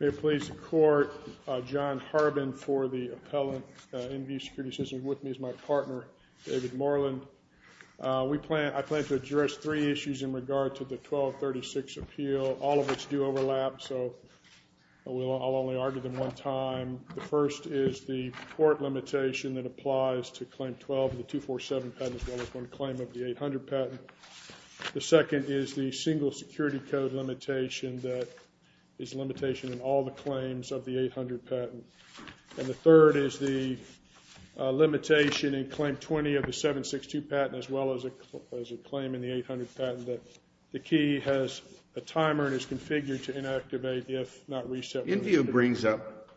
May it please the Court, John Harbin for the Appellant, InVue Security Systems. With me is my partner, David Moreland. I plan to address three issues in regard to the 1236 appeal, all of which do overlap, so I'll only argue them one time. The first is the court limitation that applies to Claim 12, the 247 patent, as well as one claim of the 800 patent. The second is the single security code limitation that is a limitation in all the claims of the 800 patent. And the third is the limitation in Claim 20 of the 762 patent, as well as a claim in the 800 patent, that the key has a timer and is configured to inactivate if not reset. InVue brings up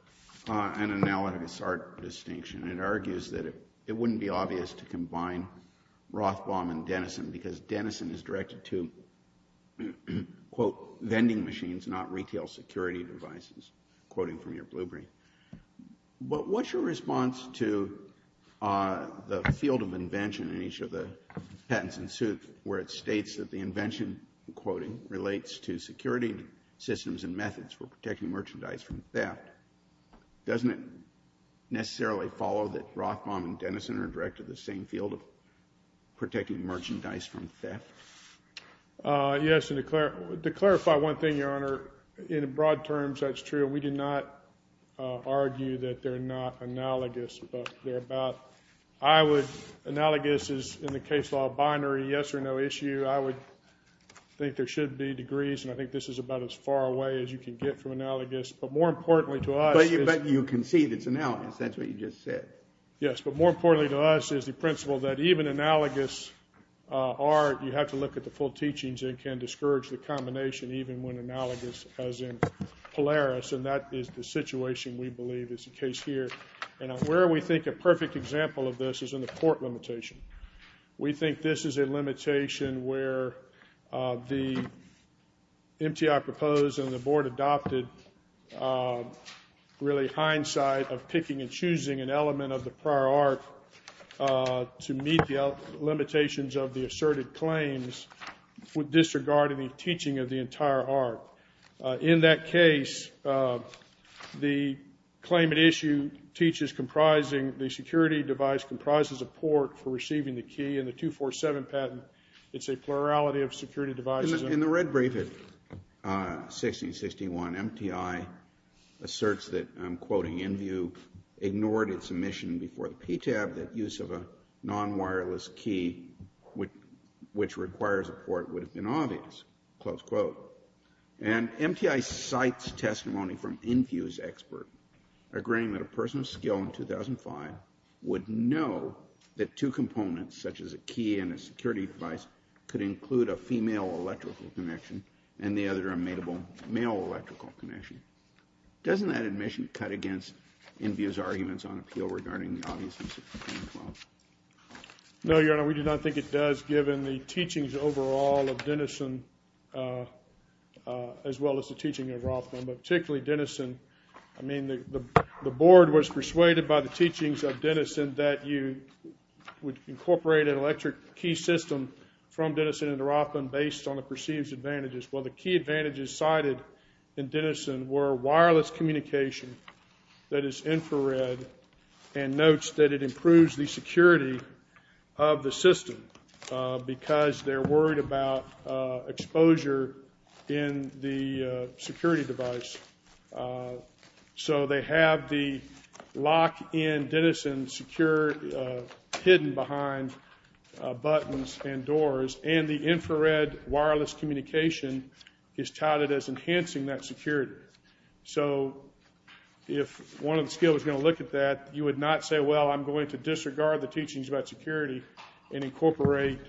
an analogous art distinction, and it argues that it wouldn't be obvious to combine Rothbaum and Denison, because Denison is directed to, quote, vending machines, not retail security devices, quoting from your BlueBrain. What's your response to the field of invention in each of the patents in suit, where it states that the invention, I'm quoting, relates to security systems and methods for protecting merchandise from theft? Doesn't it necessarily follow that Rothbaum and Denison are directed to the same field of protecting merchandise from theft? Yes, and to clarify one thing, Your Honor, in broad terms, that's true. We did not argue that they're not analogous, but they're about, I would, analogous is, in the case law, binary, yes or no issue. I would think there should be degrees, and I think this is about as far away as you can get from analogous. But more importantly to us is... But you can see that it's analogous, that's what you just said. Yes, but more importantly to us is the principle that even analogous art, you have to look at the full teachings, and it can discourage the combination, even when analogous, as in Polaris, and that is the situation we believe is the case here. And where we think a perfect example of this is in the court limitation. We think this is a limitation where the MTI proposed and the board adopted really hindsight of picking and choosing an element of the prior art to meet the limitations of the asserted claims with disregard of the teaching of the entire art. In that case, the claimant issue teaches comprising the security device comprises a port for receiving the key, and the 247 patent, it's a plurality of security devices. In the red brief at 1661, MTI asserts that, I'm quoting Inview, ignored its submission before the PTAB that use of a non-wireless key, which requires a port, would have been obvious, close quote. And MTI cites testimony from Inview's expert, agreeing that a person of skill in 2005 would know that two components, such as a key and a security device, could include a female electrical connection and the other a male electrical connection. Doesn't that admission cut against Inview's arguments on appeal regarding the obviousness of the claim clause? No, Your Honor, we do not think it does, given the teachings overall of Dennison, as well as the teaching of Rothman, but particularly Dennison, I mean, the board was persuaded by the teachings of Dennison that you would incorporate an electric key system from Dennison into Rothman based on the perceived advantages. Well, the key advantages cited in Dennison were wireless communication that is infrared and notes that it improves the security of the system because they're worried about exposure in the security device. So, they have the lock in Dennison hidden behind buttons and doors, and the infrared wireless communication is touted as enhancing that security. So, if one of the skill was going to look at that, you would not say, well, I'm going to disregard the teachings about security and incorporate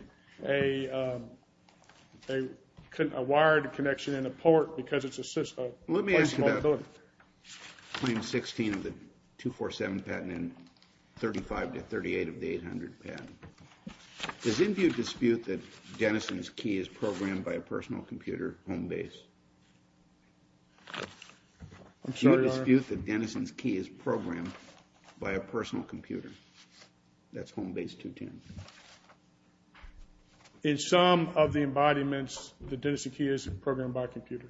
a wired connection and a port because it's a system. Let me ask you about Claim 16 of the 247 patent and 35 to 38 of the 800 patent. Does Inview dispute that Dennison's key is programmed by a personal computer, Homebase? I'm sorry, Your Honor? Do you dispute that Dennison's key is programmed by a personal computer? That's Homebase 210. In some of the embodiments, the Dennison key is programmed by a computer.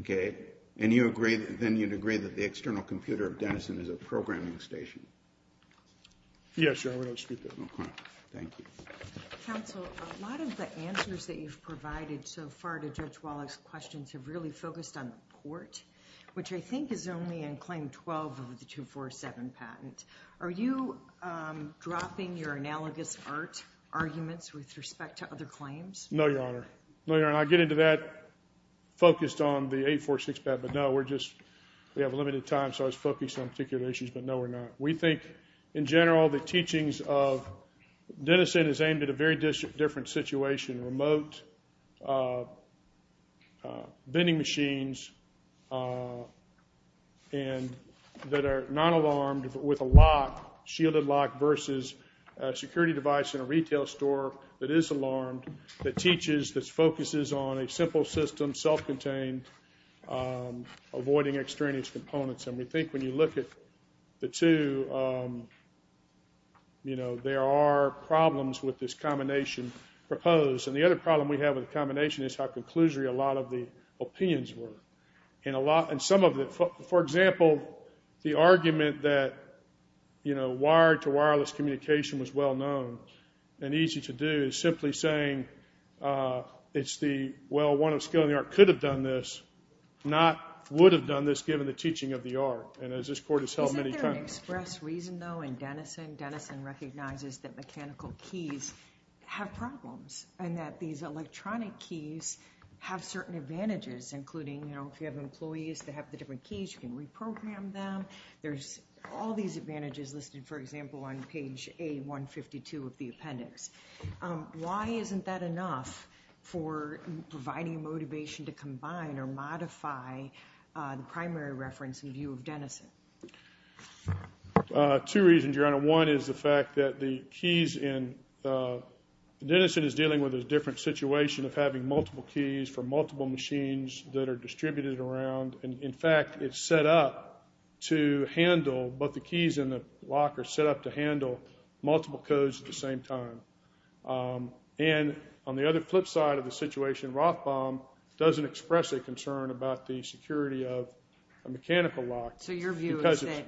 Okay. And you agree, then you'd agree that the external computer of Dennison is a programming station? Yes, Your Honor. I dispute that. Okay. Thank you. Counsel, a lot of the answers that you've provided so far to Judge Wallach's questions have really focused on the port, which I think is only in Claim 12 of the 247 patent. Are you dropping your analogous art arguments with respect to other claims? No, Your Honor. No, Your Honor. I get into that focused on the 846 patent, but no, we're just, we have limited time, so I was focused on particular issues, but no, we're not. We think, in general, the teachings of Dennison is aimed at a very different situation. Remote vending machines that are not alarmed with a lock, shielded lock, versus a security device in a retail store that is alarmed, that teaches, that focuses on a simple system, self-contained, avoiding extraneous components, and we think when you look at the two, you And the other problem we have with the combination is how conclusory a lot of the opinions were. And a lot, and some of the, for example, the argument that, you know, wired to wireless communication was well known and easy to do is simply saying it's the, well, one of the skill in the art could have done this, not would have done this given the teaching of the art, and as this Court has held many times. Isn't there an express reason, though, in Dennison? Dennison recognizes that mechanical keys have problems and that these electronic keys have certain advantages, including, you know, if you have employees that have the different keys, you can reprogram them. There's all these advantages listed, for example, on page A152 of the appendix. Why isn't that enough for providing motivation to combine or modify the primary reference in view of Dennison? Two reasons, Your Honor. One is the fact that the keys in, Dennison is dealing with a different situation of having multiple keys for multiple machines that are distributed around, and in fact, it's set up to handle, both the keys and the lock are set up to handle multiple codes at the same time. And on the other flip side of the situation, Rothbaum doesn't express a concern about the security of a mechanical lock. So your view is that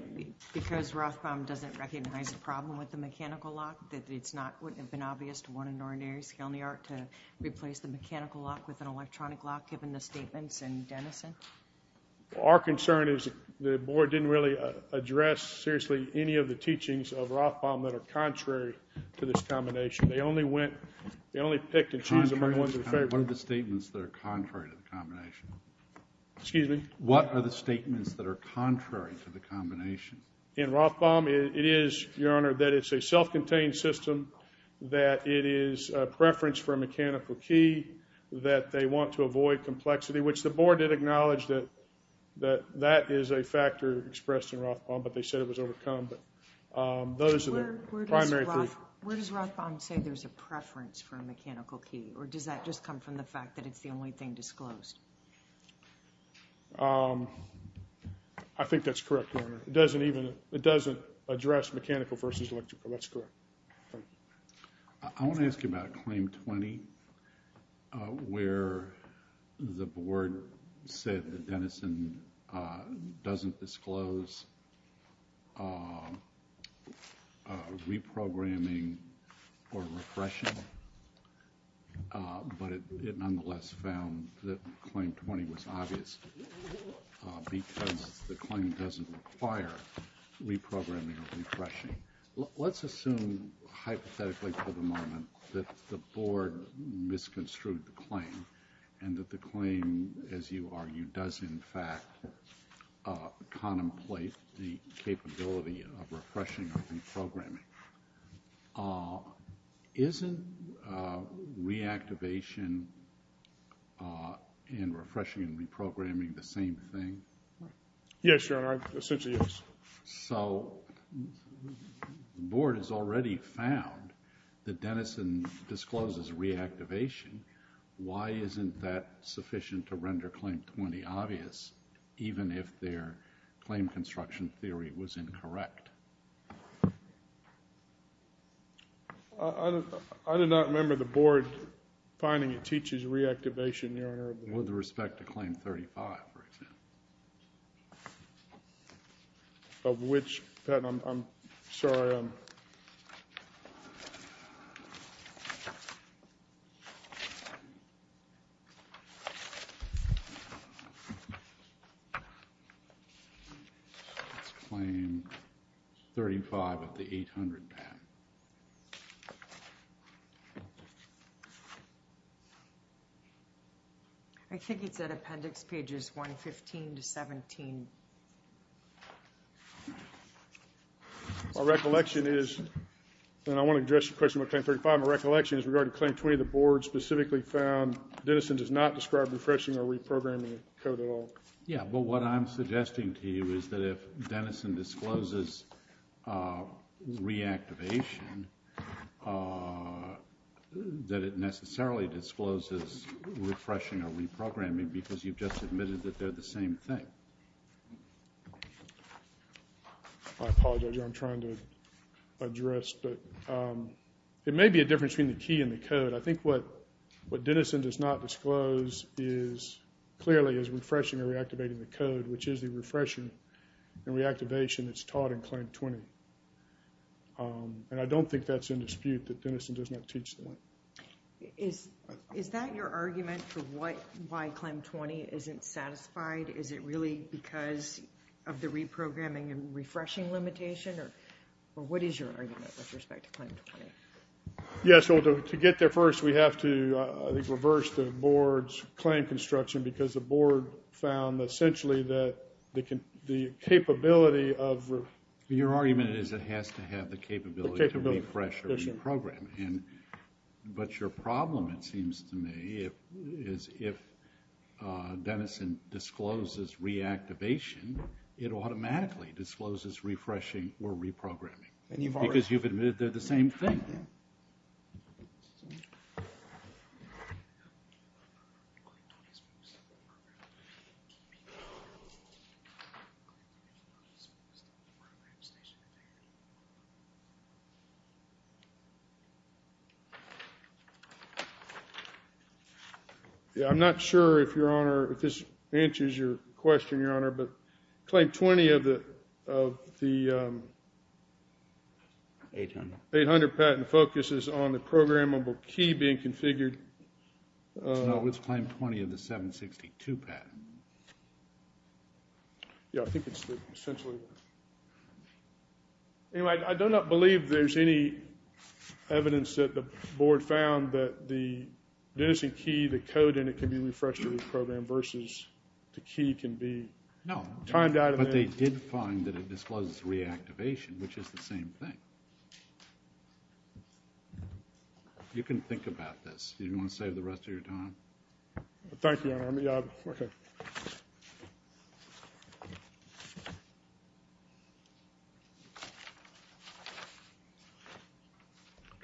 because Rothbaum doesn't recognize a problem with the mechanical lock, that it's not, wouldn't it have been obvious to one in ordinary skill in the art to replace the mechanical lock with an electronic lock, given the statements in Dennison? Our concern is the Board didn't really address, seriously, any of the teachings of Rothbaum that are contrary to this combination. They only went, they only picked and chose among the ones they favored. What are the statements that are contrary to the combination? Excuse me? What are the statements that are contrary to the combination? In Rothbaum, it is, Your Honor, that it's a self-contained system, that it is a preference for a mechanical key, that they want to avoid complexity, which the Board did acknowledge that that is a factor expressed in Rothbaum, but they said it was overcome. But those are the primary three. Where does Rothbaum say there's a preference for a mechanical key, or does that just come from the fact that it's the only thing disclosed? I think that's correct, Your Honor. It doesn't even, it doesn't address mechanical versus electrical. That's correct. I want to ask you about Claim 20, where the Board said that Dennison doesn't disclose reprogramming or refreshing, but it nonetheless found that Claim 20 was obvious, because the claim doesn't require reprogramming or refreshing. Let's assume, hypothetically, for the moment, that the Board misconstrued the claim, and that the claim, as you argue, does in fact contemplate the capability of refreshing or reprogramming. Isn't reactivation and refreshing and reprogramming the same thing? Yes, Your Honor. Essentially, yes. So the Board has already found that Dennison discloses reactivation. Why isn't that sufficient to render Claim 20 obvious, even if their claim construction theory was incorrect? I do not remember the Board finding it teaches reactivation, Your Honor. With respect to Claim 35, for example. Of which, Pat, I'm sorry. Your Honor. It's Claim 35 of the 800, Pat. I think it's at Appendix Pages 115 to 17. My recollection is, and I want to address your question about Claim 35, my recollection is regarding Claim 20, the Board specifically found Dennison does not describe refreshing or reprogramming the code at all. Yes, but what I'm suggesting to you is that if Dennison discloses reactivation, that it necessarily discloses refreshing or reprogramming, because you've just admitted that they're the same thing. I apologize, Your Honor, I'm trying to address, but it may be a difference between the key and the code. I think what Dennison does not disclose is, clearly, is refreshing or reactivating the code, which is the refreshing and reactivation that's taught in Claim 20. And I don't think that's in dispute that Dennison does not teach that. Is that your argument for why Claim 20 isn't satisfied? Is it really because of the reprogramming and refreshing limitation? Or what is your argument with respect to Claim 20? Yes, well, to get there first, we have to, I think, reverse the Board's claim construction, because the Board found, essentially, that the capability of— Your argument is it has to have the capability to refresh or reprogram. But your problem, it seems to me, is if Dennison discloses reactivation, it automatically discloses refreshing or reprogramming, because you've admitted they're the same thing. I'm not sure if, Your Honor, if this answers your question, Your Honor, but Claim 20 of the 800 patent focuses on the programmable key being configured. No, it's Claim 20 of the 762 patent. Yeah, I think it's essentially— Anyway, I do not believe there's any evidence that the Board found that the Dennison key, the code in it can be refreshed or reprogrammed versus the key can be timed out of— No, but they did find that it discloses reactivation, which is the same thing. You can think about this. Do you want to save the rest of your time? Thank you, Your Honor.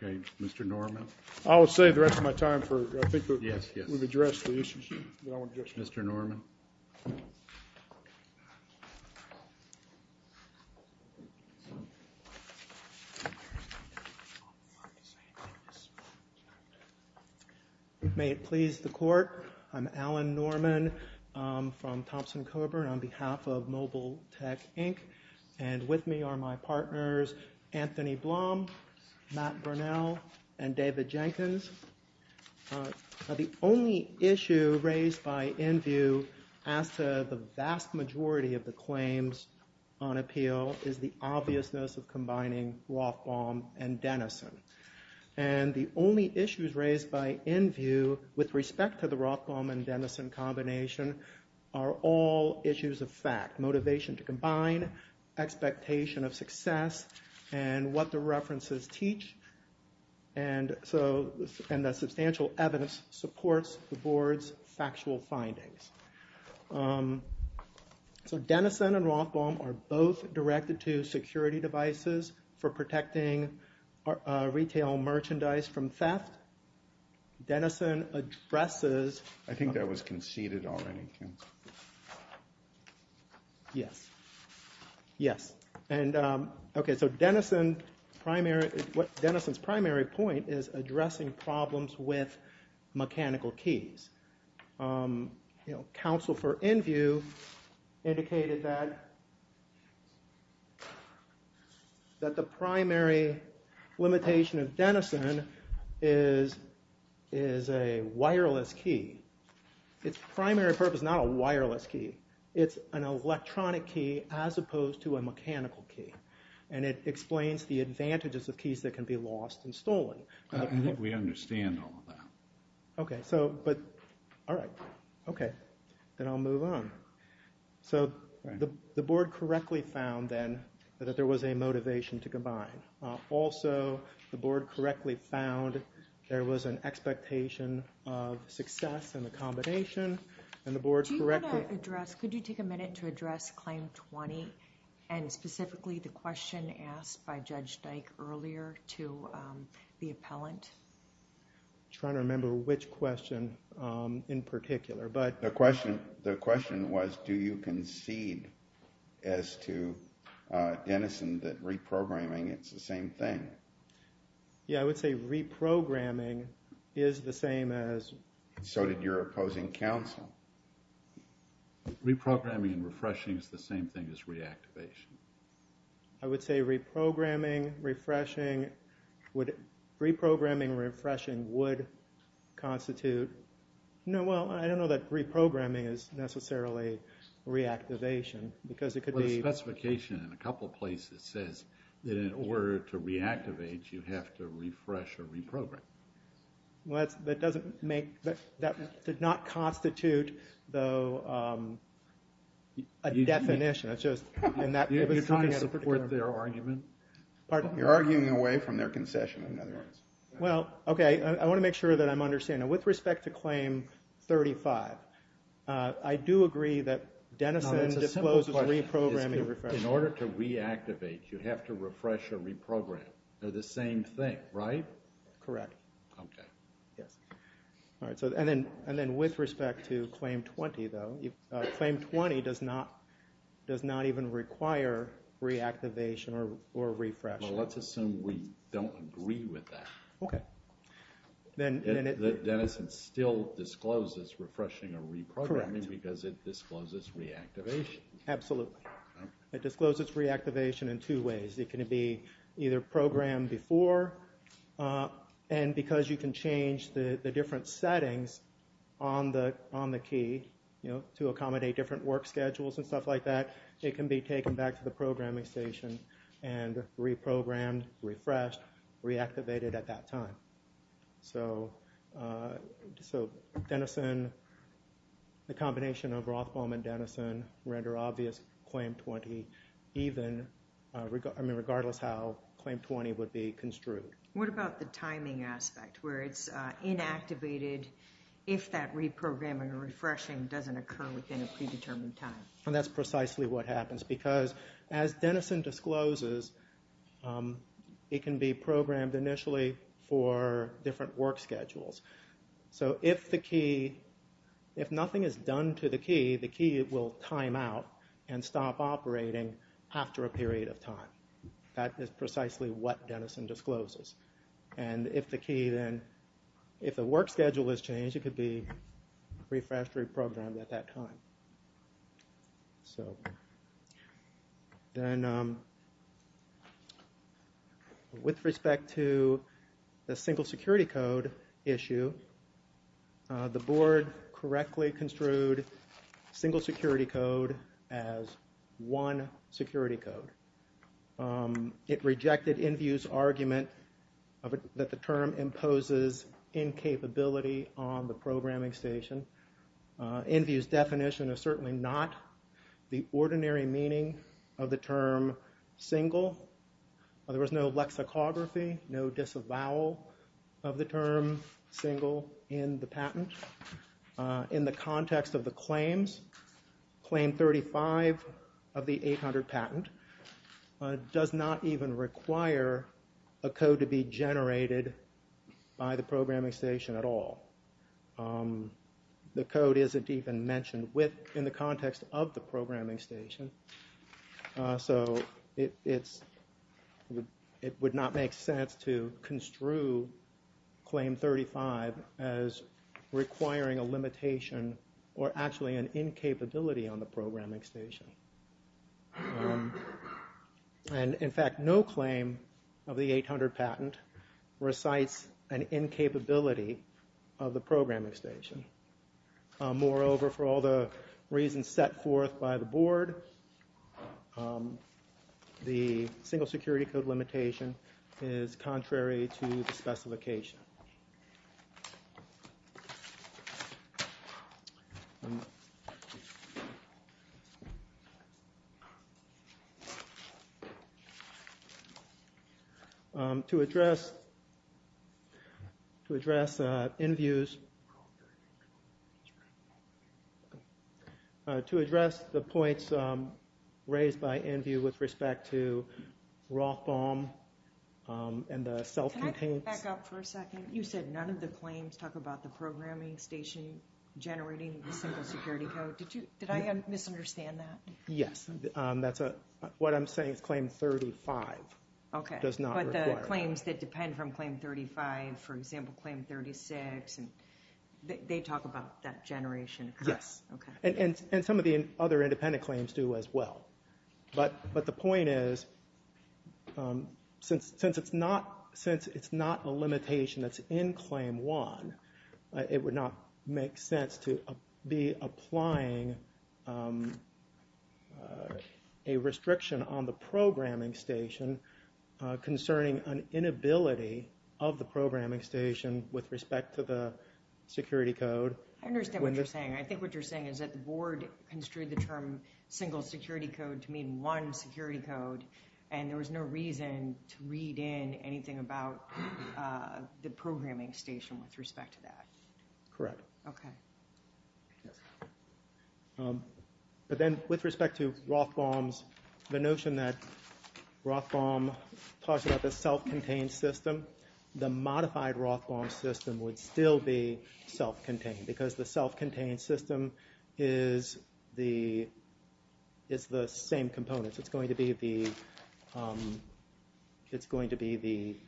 Okay, Mr. Norman. I will save the rest of my time for—I think we've addressed the issue. Mr. Norman. May it please the Court, I'm Alan Norman from Thompson-Coburn on behalf of Mobile Tech, Inc., and with me are my partners Anthony Blum, Matt Burnell, and David Jenkins. The only issue raised by Enview as to the vast majority of the claims on appeal is the obviousness of combining Rothbaum and Dennison. And the only issues raised by Enview with respect to the Rothbaum and Dennison combination are all issues of fact, motivation to combine, expectation of success, and what the references teach. And the substantial evidence supports the Board's factual findings. So Dennison and Rothbaum are both directed to security devices for protecting retail merchandise from theft. Dennison addresses— I think that was conceded already. Yes. Yes. Okay, so Dennison's primary point is addressing problems with mechanical keys. Counsel for Enview indicated that the primary limitation of Dennison is a wireless key. Its primary purpose is not a wireless key. It's an electronic key as opposed to a mechanical key. And it explains the advantages of keys that can be lost and stolen. I think we understand all of that. Okay, so—all right. Okay, then I'll move on. So the Board correctly found then that there was a motivation to combine. Also, the Board correctly found there was an expectation of success in the combination, and the Board correctly— Do you want to address—could you take a minute to address Claim 20 and specifically the question asked by Judge Dyke earlier to the appellant? I'm trying to remember which question in particular, but— The question was, do you concede as to Dennison that reprogramming is the same thing? Yeah, I would say reprogramming is the same as— So did your opposing counsel. Reprogramming and refreshing is the same thing as reactivation. I would say reprogramming, refreshing would— Reprogramming and refreshing would constitute— No, well, I don't know that reprogramming is necessarily reactivation because it could be— Well, the specification in a couple places says that in order to reactivate, you have to refresh or reprogram. Well, that doesn't make—that did not constitute, though, a definition. You're trying to support their argument? You're arguing away from their concession, in other words. Well, okay, I want to make sure that I'm understanding. With respect to Claim 35, I do agree that Dennison discloses reprogramming— In order to reactivate, you have to refresh or reprogram. They're the same thing, right? Correct. Okay. Yes. And then with respect to Claim 20, though, Claim 20 does not even require reactivation or refresh. Well, let's assume we don't agree with that. Okay. That Dennison still discloses refreshing or reprogramming because it discloses reactivation. Absolutely. It discloses reactivation in two ways. It can be either programmed before, and because you can change the different settings on the key to accommodate different work schedules and stuff like that, it can be taken back to the programming station and reprogrammed, refreshed, reactivated at that time. So Dennison, the combination of Rothbaum and Dennison, render obvious Claim 20 even— I mean, regardless how Claim 20 would be construed. What about the timing aspect where it's inactivated if that reprogramming or refreshing doesn't occur within a predetermined time? And that's precisely what happens because, as Dennison discloses, it can be programmed initially for different work schedules. So if the key—if nothing is done to the key, the key will time out and stop operating after a period of time. That is precisely what Dennison discloses. And if the key then—if the work schedule is changed, it could be refreshed, reprogrammed at that time. So, then, with respect to the single security code issue, the board correctly construed single security code as one security code. It rejected Inview's argument that the term imposes incapability on the programming station. Inview's definition is certainly not the ordinary meaning of the term single. There was no lexicography, no disavowal of the term single in the patent. In the context of the claims, Claim 35 of the 800 patent does not even require a code to be generated by the programming station at all. The code isn't even mentioned in the context of the programming station. So it would not make sense to construe Claim 35 as requiring a limitation or actually an incapability on the programming station. And, in fact, no claim of the 800 patent recites an incapability of the programming station. Moreover, for all the reasons set forth by the board, the single security code limitation is contrary to the specification. To address Inview's... To address the points raised by Inview with respect to Rothbaum and the self-contained... Can I back up for a second? You said none of the claims talk about the programming station generating the single security code. Did I misunderstand that? Yes. What I'm saying is Claim 35 does not require... But the claims that depend from Claim 35, for example, Claim 36, they talk about that generation. Yes. And some of the other independent claims do as well. But the point is since it's not a limitation that's in Claim 1, it would not make sense to be applying a restriction on the programming station concerning an inability of the programming station with respect to the security code. I understand what you're saying. I think what you're saying is that the board construed the term single security code to mean one security code, and there was no reason to read in anything about the programming station with respect to that. Correct. Okay. But then with respect to Rothbaum's... The notion that Rothbaum talks about the self-contained system, the modified Rothbaum system would still be self-contained because the self-contained system is the same components. It's going to be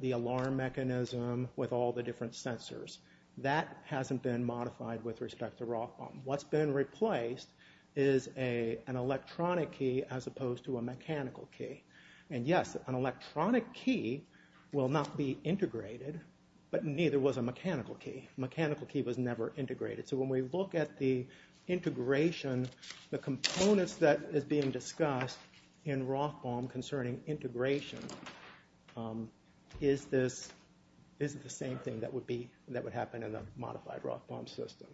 the alarm mechanism with all the different sensors. That hasn't been modified with respect to Rothbaum. What's been replaced is an electronic key as opposed to a mechanical key. And yes, an electronic key will not be integrated, but neither was a mechanical key. A mechanical key was never integrated. So when we look at the integration, the components that is being discussed in Rothbaum concerning integration, is this the same thing that would happen in a modified Rothbaum system?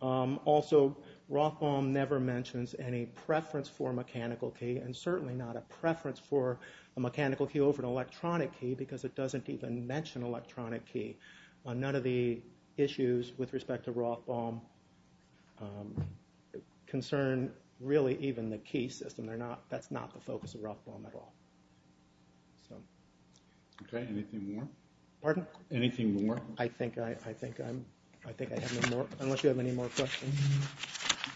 Also, Rothbaum never mentions any preference for a mechanical key, and certainly not a preference for a mechanical key over an electronic key, because it doesn't even mention electronic key. None of the issues with respect to Rothbaum concern really even the key system. That's not the focus of Rothbaum at all. Okay, anything more? Pardon? Anything more? I think I have no more, unless you have any more questions.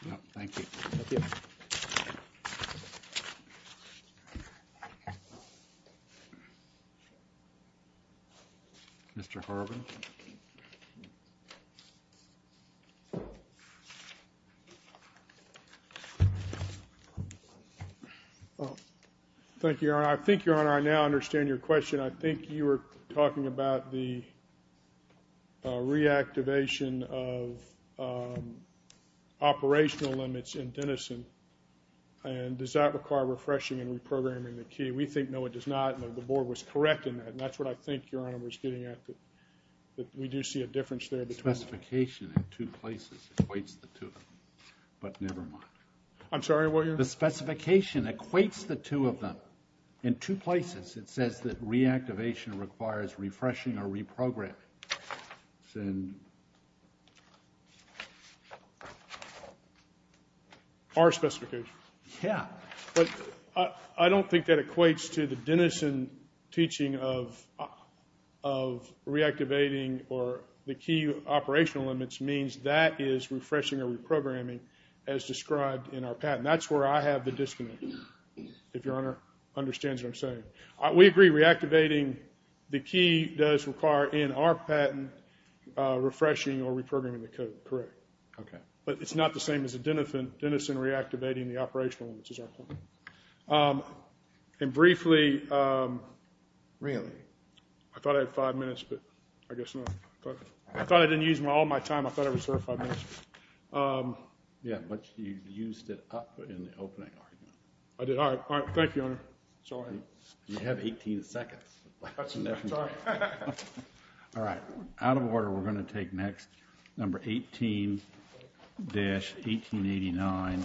No, thank you. Thank you. Mr. Harbin. Thank you, Your Honor. I think, Your Honor, I now understand your question. I think you were talking about the reactivation of operational limits in Denison, and does that require refreshing and reprogramming the key? We think no, it does not, and the Board was correct in that, and that's what I think Your Honor was getting at, that we do see a difference there. The specification in two places equates the two of them, but never mind. I'm sorry, what did you say? The specification equates the two of them. In two places it says that reactivation requires refreshing or reprogramming. Our specification. Yeah. But I don't think that equates to the Denison teaching of reactivating or the key operational limits means that is refreshing or reprogramming, as described in our patent. That's where I have the disconnect, if Your Honor understands what I'm saying. We agree reactivating the key does require, in our patent, refreshing or reprogramming the code. Correct. Okay. But it's not the same as the Denison reactivating the operational, which is our point. And briefly. Really? I thought I had five minutes, but I guess not. I thought I didn't use all my time. I thought I reserved five minutes. Yeah, but you used it up in the opening argument. I did. All right. All right. Thank you, Your Honor. It's all right. You have 18 seconds. That's enough time. All right. Out of order, we're going to take next number 18-1889,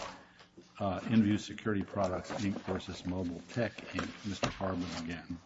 In-View Security Products, Inc. v. Mobile Tech, Inc. Mr. Harmon again.